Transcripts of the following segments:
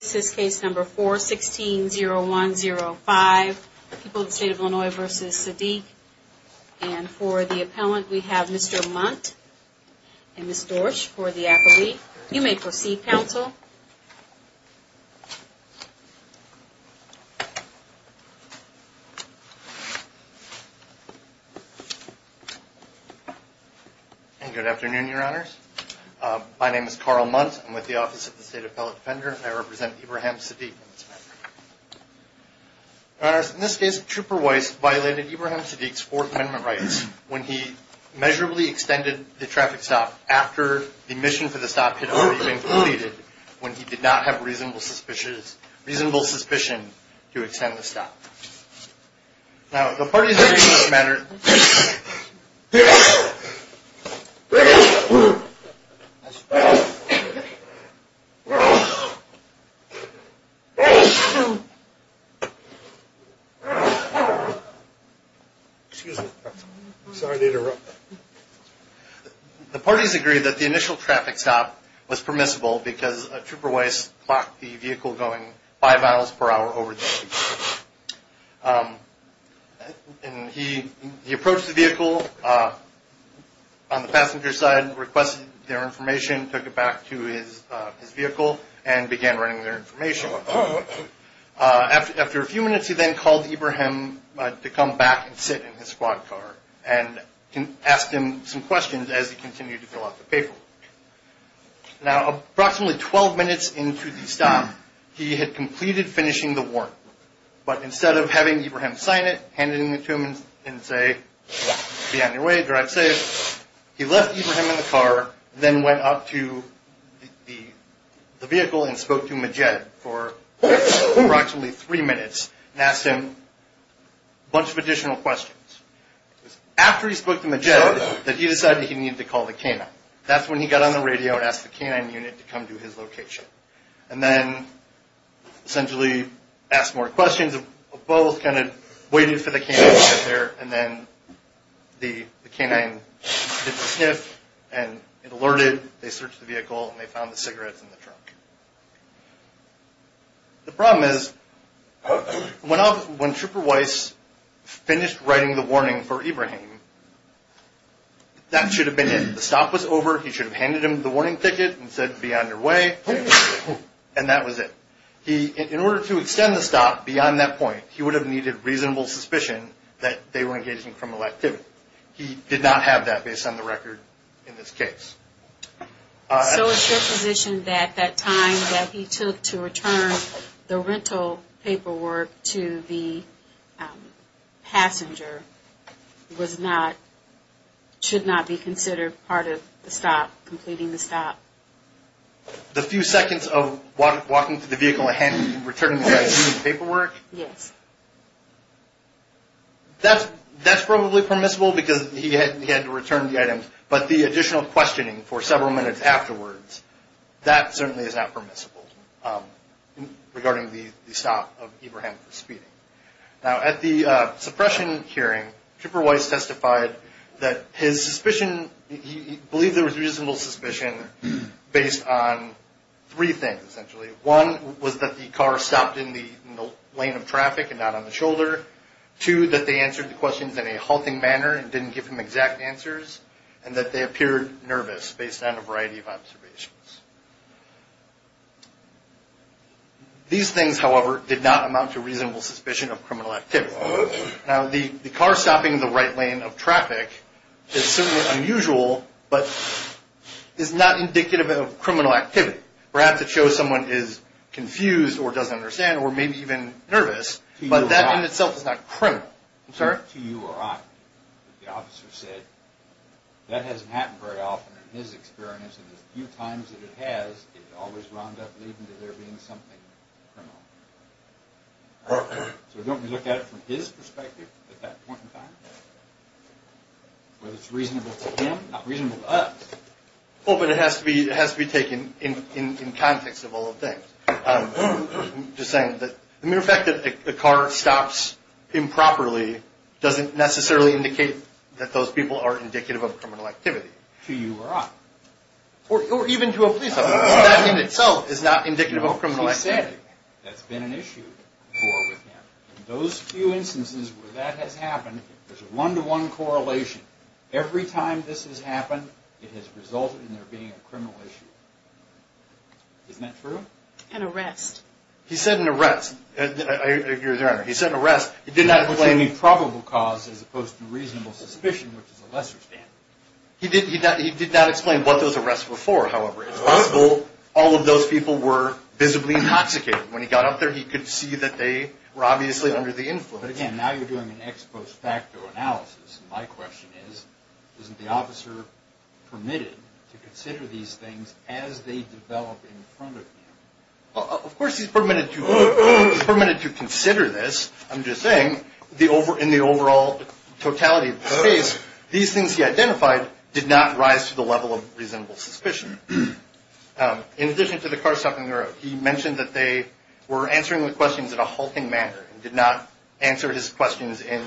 This is case number 4-16-0105, People in the State of Illinois v. Sadeq. And for the appellant we have Mr. Munt and Ms. Dorsch for the appellate. You may proceed, counsel. Good afternoon, your honors. My name is Carl Munt. I'm with the Office of the State Appellate Defender. I represent Ibrahim Sadeq in this matter. Your honors, in this case, Trooper Weiss violated Ibrahim Sadeq's Fourth Amendment rights when he measurably extended the traffic stop after the mission for the stop had already been completed when he did not have reasonable suspicion to extend the stop. Now, the parties agreed in this matter... Excuse me, I'm sorry to interrupt. The parties agreed that the initial traffic stop was permissible because Trooper Weiss blocked the vehicle going five miles per hour over the speed limit. And he approached the vehicle on the passenger side, requested their information, took it back to his vehicle, and began running their information. After a few minutes, he then called Ibrahim to come back and sit in his squad car and asked him some questions as he continued to fill out the paperwork. Now, approximately 12 minutes into the stop, he had completed finishing the work. But instead of having Ibrahim sign it, hand it to him and say, be on your way, drive safe, he left Ibrahim in the car, then went up to the vehicle and spoke to Majed for approximately three minutes and asked him a bunch of additional questions. After he spoke to Majed, he decided he needed to call the K-9. That's when he got on the radio and asked the K-9 unit to come to his location. And then, essentially, asked more questions, both kind of waited for the K-9 to get there, and then the K-9 did the sniff, and it alerted, they searched the vehicle, and they found the cigarettes in the trunk. The problem is, when Trooper Weiss finished writing the warning for Ibrahim, that should have been it. The stop was over, he should have handed him the warning ticket and said, be on your way, and that was it. In order to extend the stop beyond that point, he would have needed reasonable suspicion that they were engaging criminal activity. He did not have that based on the record in this case. So it's your position that that time that he took to return the rental paperwork to the passenger was not, should not be considered part of the stop, completing the stop. The few seconds of walking to the vehicle and returning the items and paperwork? Yes. That's probably permissible because he had to return the items, but the additional questioning for several minutes afterwards, that certainly is not permissible regarding the stop of Ibrahim for speeding. Now, at the suppression hearing, Trooper Weiss testified that his suspicion, he believed there was reasonable suspicion based on three things, essentially. One was that the car stopped in the lane of traffic and not on the shoulder. Two, that they answered the questions in a halting manner and didn't give him exact answers, and that they appeared nervous based on a variety of observations. These things, however, did not amount to reasonable suspicion of criminal activity. Now, the car stopping in the right lane of traffic is certainly unusual, but is not indicative of criminal activity. Perhaps it shows someone is confused or doesn't understand or maybe even nervous, but that in itself is not criminal. To you or I, the officer said that hasn't happened very often in his experience, and the few times that it has, it always wound up leading to there being something criminal. So don't we look at it from his perspective at that point in time? Whether it's reasonable to him, not reasonable to us. Well, but it has to be taken in context of all the things. Just saying that the mere fact that the car stops improperly doesn't necessarily indicate that those people are indicative of criminal activity. To you or I. Or even to a police officer. That in itself is not indicative of criminal activity. He said that's been an issue before with him. In those few instances where that has happened, there's a one-to-one correlation. Every time this has happened, it has resulted in there being a criminal issue. Isn't that true? An arrest. He said an arrest. Your Honor, he said an arrest. It did not explain a probable cause as opposed to reasonable suspicion, which is a lesser standard. He did not explain what those arrests were for, however. It's possible all of those people were visibly intoxicated. When he got up there, he could see that they were obviously under the influence. But again, now you're doing an ex post facto analysis. My question is, isn't the officer permitted to consider these things as they develop in front of him? Of course he's permitted to. He's permitted to consider this. I'm just saying, in the overall totality of the case, these things he identified did not rise to the level of reasonable suspicion. In addition to the car stopping, he mentioned that they were answering the questions in a halting manner. He did not answer his questions in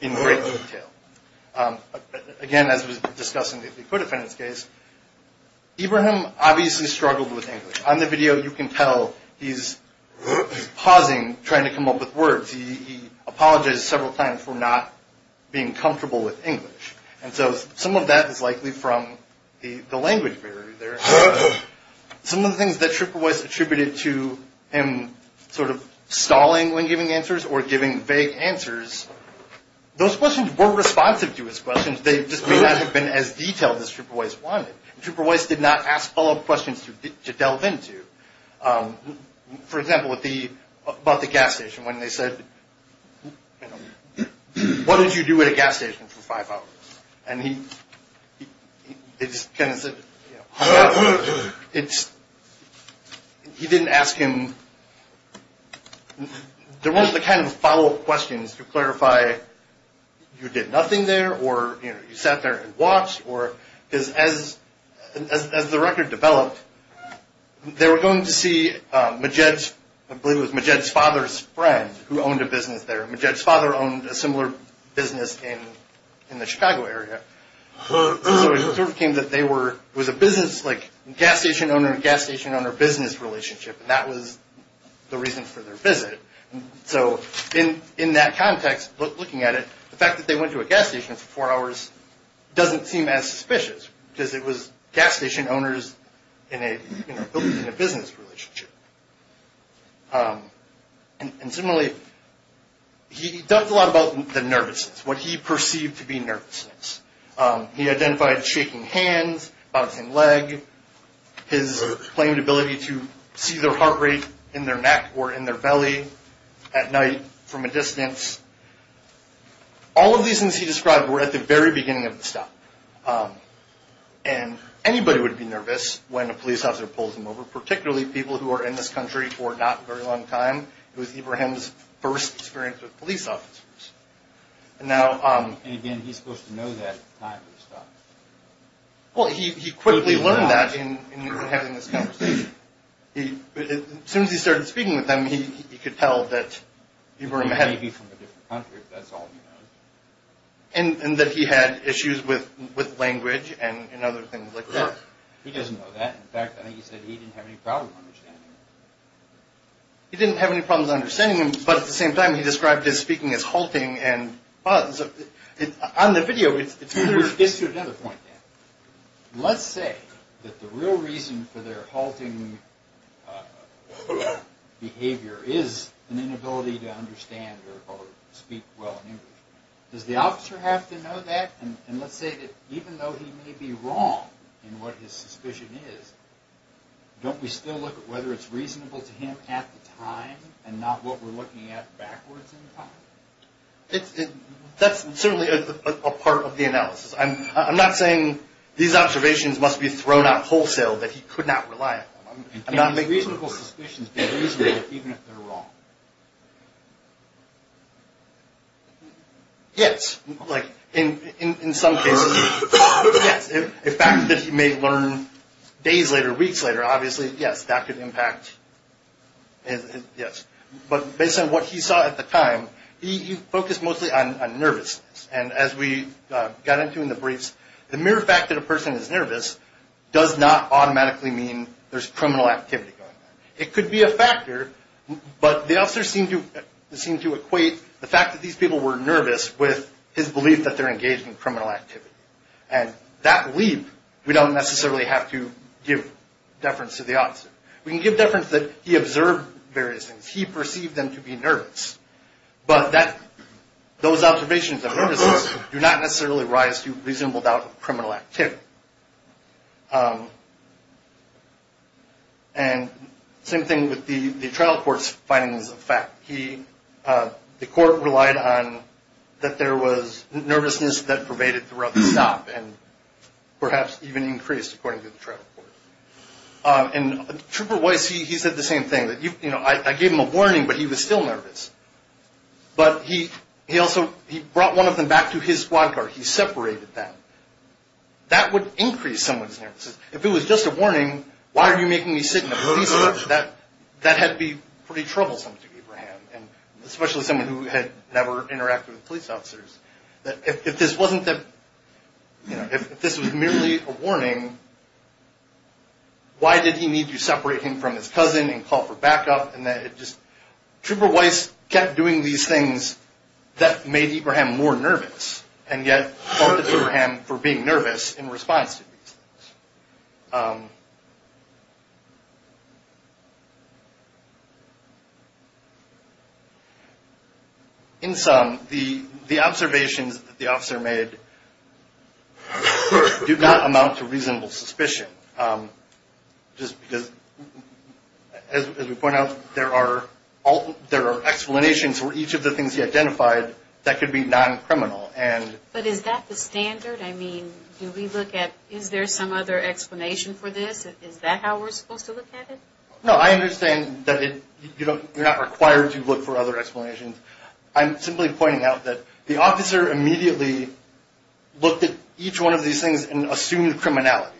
great detail. Again, as was discussed in the acquittal defense case, Ibrahim obviously struggled with English. On the video, you can tell he's pausing, trying to come up with words. He apologized several times for not being comfortable with English. And so some of that is likely from the language barrier there. Some of the things that Schupper-Weiss attributed to him sort of stalling when giving answers or giving vague answers, those questions were responsive to his questions. They just may not have been as detailed as Schupper-Weiss wanted. Schupper-Weiss did not ask follow-up questions to delve into. For example, about the gas station, when they said, what did you do at a gas station for five hours? And he just kind of said, you know, he didn't ask him, there weren't the kind of follow-up questions to clarify, you did nothing there, or you sat there and watched, because as the record developed, they were going to see Majed's, I believe it was Majed's father's friend, who owned a business there. Majed's father owned a similar business in the Chicago area. So it sort of came that they were, it was a business like gas station owner, gas station owner business relationship, and that was the reason for their visit. So in that context, looking at it, the fact that they went to a gas station for four hours doesn't seem as suspicious, because it was gas station owners in a business relationship. And similarly, he talked a lot about the nervousness, what he perceived to be nervousness. He identified shaking hands, bouncing leg, his claimed ability to see their heart rate in their neck or in their belly, at night, from a distance. All of these things he described were at the very beginning of the stop. And anybody would be nervous when a police officer pulls them over, particularly people who are in this country for not a very long time. It was Ibrahim's first experience with police officers. And now... And again, he's supposed to know that at the time of the stop. Well, he quickly learned that in having this conversation. As soon as he started speaking with them, he could tell that Ibrahim had... He may be from a different country, but that's all he knows. And that he had issues with language and other things like that. He doesn't know that. In fact, I think he said he didn't have any problem understanding them. He didn't have any problems understanding them, but at the same time, he described his speaking as halting and pause. On the video, it's to another point. Let's say that the real reason for their halting behavior is an inability to understand or speak well in English. Does the officer have to know that? And let's say that even though he may be wrong in what his suspicion is, don't we still look at whether it's reasonable to him at the time and not what we're looking at backwards in time? That's certainly a part of the analysis. I'm not saying these observations must be thrown out wholesale that he could not rely on them. Reasonable suspicions can be reasonable even if they're wrong. Yes. In some cases, yes. The fact that he may learn days later, weeks later, obviously, yes, that could impact. Yes. But based on what he saw at the time, he focused mostly on nervousness. And as we got into in the briefs, the mere fact that a person is nervous does not automatically mean there's criminal activity going on. It could be a factor, but the officer seemed to equate the fact that these people were nervous with his belief that they're engaged in criminal activity. And that belief, we don't necessarily have to give deference to the officer. We can give deference that he observed various things. He perceived them to be nervous. But those observations of nervousness do not necessarily rise to reasonable doubt of criminal activity. And the same thing with the trial court's findings of fact. The court relied on that there was nervousness that pervaded throughout the stop and perhaps even increased according to the trial court. And Trooper Weiss, he said the same thing. I gave him a warning, but he was still nervous. But he also brought one of them back to his squad car. He separated them. That would mean that he was not nervous. That would increase someone's nervousness. If it was just a warning, why are you making me sit in a police car? That had to be pretty troublesome to Abraham. Especially someone who had never interacted with police officers. If this was merely a warning, why did he need to separate him from his cousin and call for backup? Trooper Weiss kept doing these things that made Abraham more nervous. And yet, faulted Abraham for being nervous in response to these things. In sum, the observations that the officer made do not amount to reasonable suspicion. Just because, as we point out, there are explanations for each of the things he identified that could be non-criminal. But is that the standard? Do we look at, is there some other explanation for this? Is that how we're supposed to look at it? No, I understand that you're not required to look for other explanations. I'm simply pointing out that the officer immediately looked at each one of these things and assumed criminality.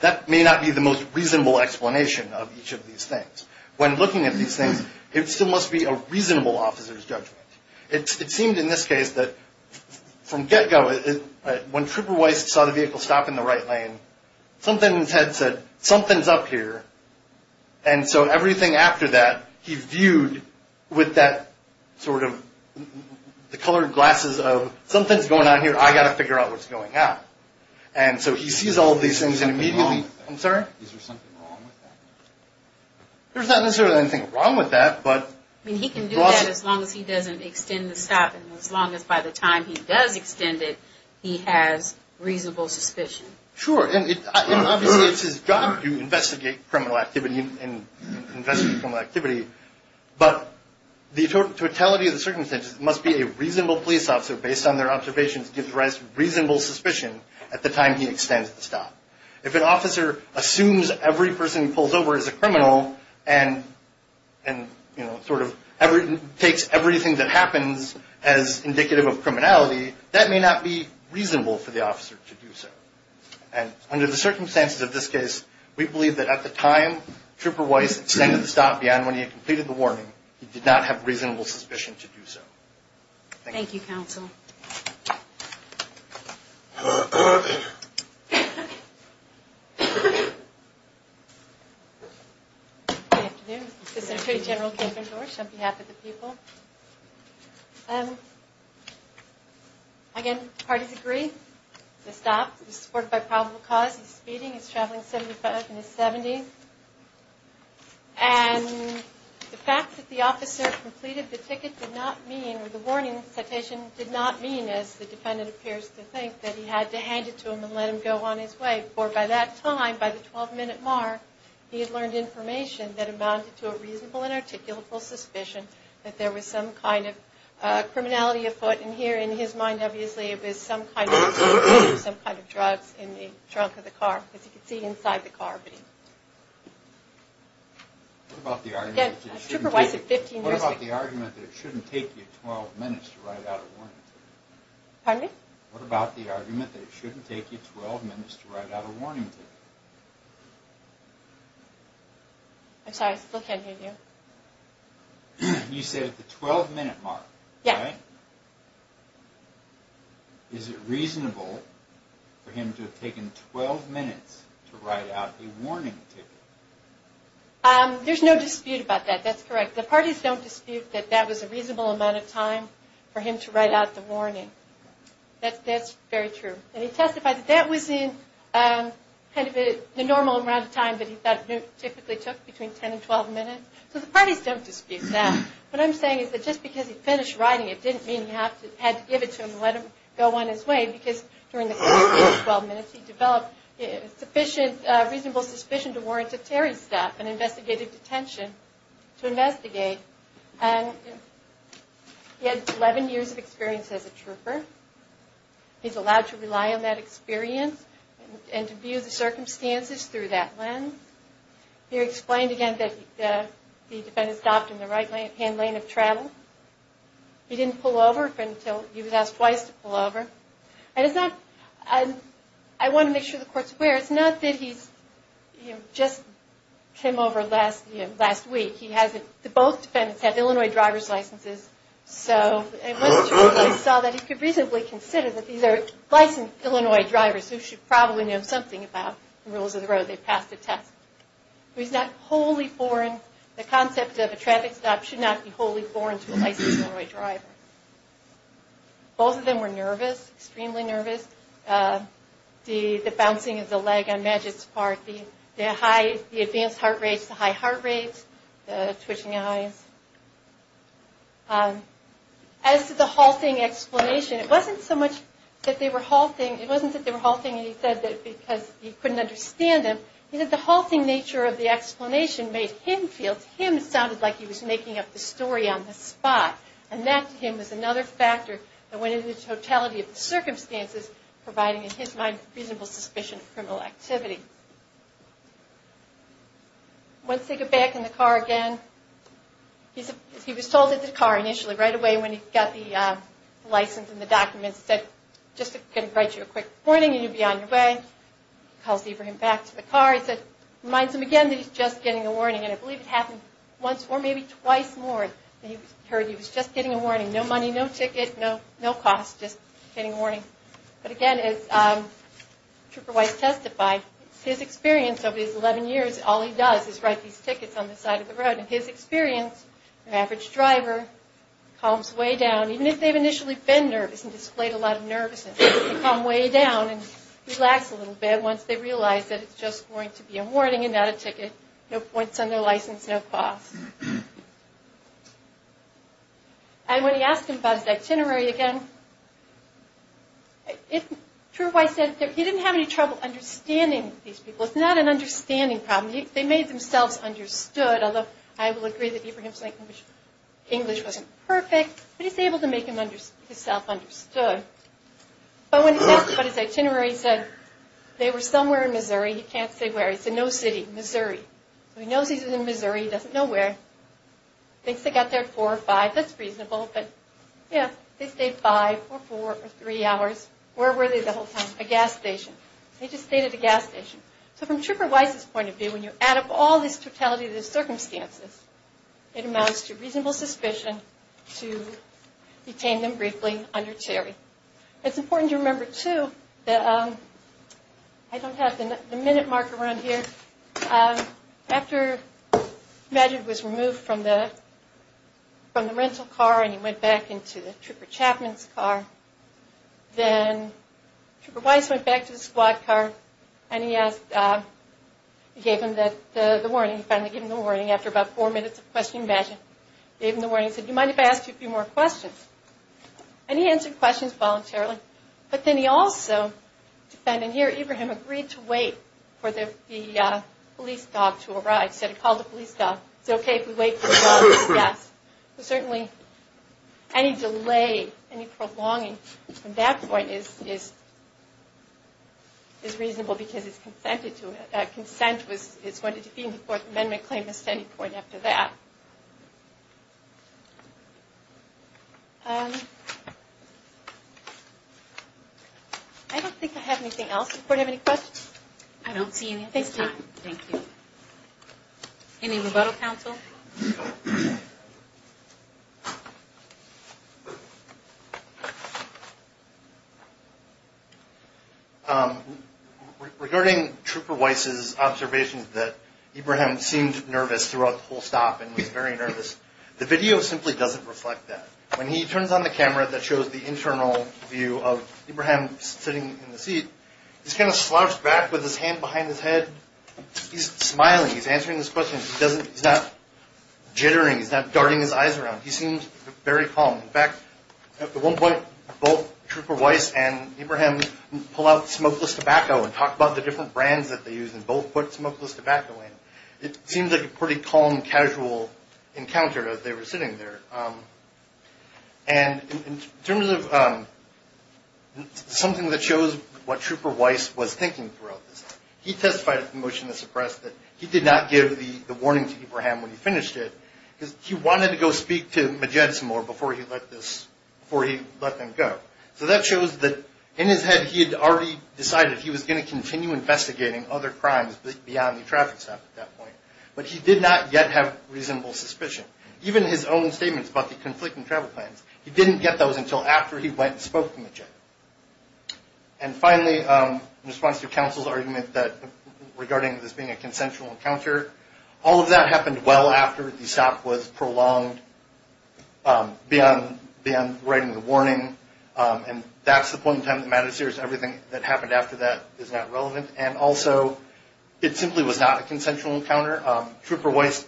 That may not be the most reasonable explanation of each of these things. When looking at these things, it still must be a reasonable officer's judgment. It seemed in this case that, from get-go, when Trooper Weiss saw the vehicle stop in the right lane, something in his head said, something's up here. And so everything after that, he viewed with that sort of, the colored glasses of, something's going on here, I've got to figure out what's going on. And so he sees all these things and immediately... Is there something wrong with that? There's not necessarily anything wrong with that, but... He can do that as long as he doesn't extend the stop, and as long as by the time he does extend it, he has reasonable suspicion. Sure, and obviously it's his job to investigate criminal activity, and investigate criminal activity, but the totality of the circumstances must be a reasonable police officer, based on their observations, gives Weiss reasonable suspicion at the time he extends the stop. If an officer assumes every person he pulls over is a criminal, and sort of takes everything that happens as indicative of criminality, that may not be reasonable for the officer to do so. And under the circumstances of this case, we believe that at the time Trooper Weiss extended the stop beyond when he had completed the warning, he did not have reasonable suspicion to do so. Thank you, counsel. Good afternoon, Assistant Attorney General Kay Van Dorsch on behalf of the people. Again, parties agree. The stop was supported by probable cause. He's speeding, he's traveling 75 in his 70s. And the fact that the officer completed the ticket did not mean, or the warning citation did not mean, as the defendant appears to think, that he had to hand it to him and let him go on his way. Therefore, by that time, by the 12-minute mark, he had learned information that amounted to a reasonable and articulable suspicion that there was some kind of criminality afoot. And here, in his mind, obviously, it was some kind of drugs in the trunk of the car, as you can see inside the car. What about the argument that it shouldn't take you 12 minutes to write out a warning? Pardon me? What about the argument that it shouldn't take you 12 minutes to write out a warning ticket? I'm sorry, I still can't hear you. You said at the 12-minute mark, right? Yes. Is it reasonable for him to have taken 12 minutes to write out a warning ticket? There's no dispute about that. That's correct. The parties don't dispute that that was a reasonable amount of time for him to write out the warning. That's very true. And he testified that that was the normal amount of time that he thought it typically took, between 10 and 12 minutes. So the parties don't dispute that. What I'm saying is that just because he finished writing it, didn't mean he had to give it to him and let him go on his way, because during the 12 minutes, he developed a reasonable suspicion to warrant a Terry staff, an investigative detention, to investigate. He had 11 years of experience as a trooper. He's allowed to rely on that experience and to view the circumstances through that lens. He explained again that the defendant stopped in the right-hand lane of travel. He didn't pull over until he was asked twice to pull over. I want to make sure the Court's aware, it's not that he just came over last week. Both defendants have Illinois driver's licenses, so it was true that he saw that he could reasonably consider that these are licensed Illinois drivers, who should probably know something about the rules of the road. They've passed the test. The concept of a traffic stop should not be wholly foreign to a licensed Illinois driver. Both of them were nervous, extremely nervous. The bouncing of the leg on Magic's part, the advanced heart rates, the high heart rates, the twitching eyes. As to the halting explanation, it wasn't so much that they were halting, it wasn't that they were halting and he said that because he couldn't understand them. He said the halting nature of the explanation made him feel, him sounded like he was making up the story on the spot. And that, to him, was another factor that went into the totality of the circumstances, providing, in his mind, reasonable suspicion of criminal activity. Once they get back in the car again, he was told at the car initially, right away, when he got the license and the documents, he said, just going to write you a quick warning and you'll be on your way. He calls Abraham back to the car. He reminds him again that he's just getting a warning. And I believe it happened once or maybe twice more that he heard he was just getting a warning. No money, no ticket, no cost, just getting a warning. But again, as Trooper Weiss testified, his experience over these 11 years, all he does is write these tickets on the side of the road. And his experience, an average driver, calms way down. Even if they've initially been nervous and displayed a lot of nervousness, they calm way down and relax a little bit once they realize that it's just going to be a warning and not a ticket. No points on their license, no cost. And when he asked him about his itinerary again, Trooper Weiss said he didn't have any trouble understanding these people. It's not an understanding problem. They made themselves understood, although I will agree that Abraham's English wasn't perfect, but he was able to make himself understood. But when he asked him about his itinerary, he said they were somewhere in Missouri. He can't say where. He said no city, Missouri. So he knows he's in Missouri. He doesn't know where. He thinks they got there at 4 or 5. That's reasonable, but they stayed 5 or 4 or 3 hours. Where were they the whole time? A gas station. They just stayed at a gas station. So from Trooper Weiss' point of view, when you add up all this totality of the circumstances, it amounts to reasonable suspicion to detain them briefly under Terry. It's important to remember, too, I don't have the minute mark around here, but after Magid was removed from the rental car and he went back into the Trooper Chapman's car, then Trooper Weiss went back to the squad car and he gave him the warning. He finally gave him the warning after about 4 minutes of questioning Magid. He gave him the warning and said, do you mind if I ask you a few more questions? And he answered questions voluntarily, but then he also defended here. Ibrahim agreed to wait for the police dog to arrive. He said, call the police dog. It's okay if we wait for the dog's death. Any delay, any prolonging from that point is reasonable because consent is going to defeat the Fourth Amendment claim at any point after that. I don't think I have anything else. I don't see anything. Any rebuttal, counsel? Regarding Trooper Weiss' observations that Ibrahim seemed nervous throughout the whole stop and was very nervous, the video simply doesn't reflect that. When he turns on the camera that shows the internal view of Ibrahim sitting in the seat, he's kind of slouched back with his hand behind his head. He's smiling. He's answering his questions. He's not jittering. He's not darting his eyes around. He seemed very calm. In fact, at one point, both Trooper Weiss and Ibrahim pull out smokeless tobacco and talk about the different brands that they use and both put smokeless tobacco in. It seemed like a pretty calm, casual encounter as they were sitting there. In terms of something that shows what Trooper Weiss was thinking throughout this, he testified at the motion to suppress that he did not give the warning to Ibrahim when he finished it because he wanted to go speak to Majed some more before he let them go. That shows that in his head he had already decided he was going to continue investigating other crimes beyond the traffic stop at that point, but he did not yet have reasonable suspicion. Even his own statements about the conflicting travel plans, he didn't get those until after he went and spoke to Majed. Finally, in response to counsel's argument regarding this being a consensual encounter, all of that happened well after the stop was prolonged beyond writing the warning. That's the point in time that matters here. Everything that happened after that is not relevant. Also, it simply was not a consensual encounter. Trooper Weiss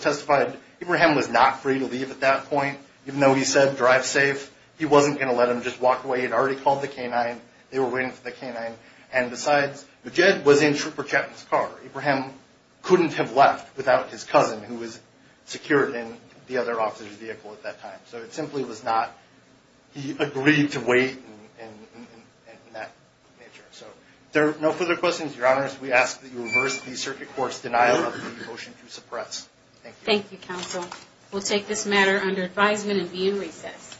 testified that Ibrahim was not free to leave at that point even though he said drive safe. He wasn't going to let them just walk away. He had already called the K-9. Besides, Majed was in Trooper Chapman's car. Ibrahim couldn't have left without his cousin who was secured in the other officer's vehicle at that time. It simply was not... He agreed to wait and that nature. If there are no further questions, Your Honors, we ask that you reverse the Circuit Court's denial of the motion to suppress. Thank you. We'll take this matter under advisement and be in recess.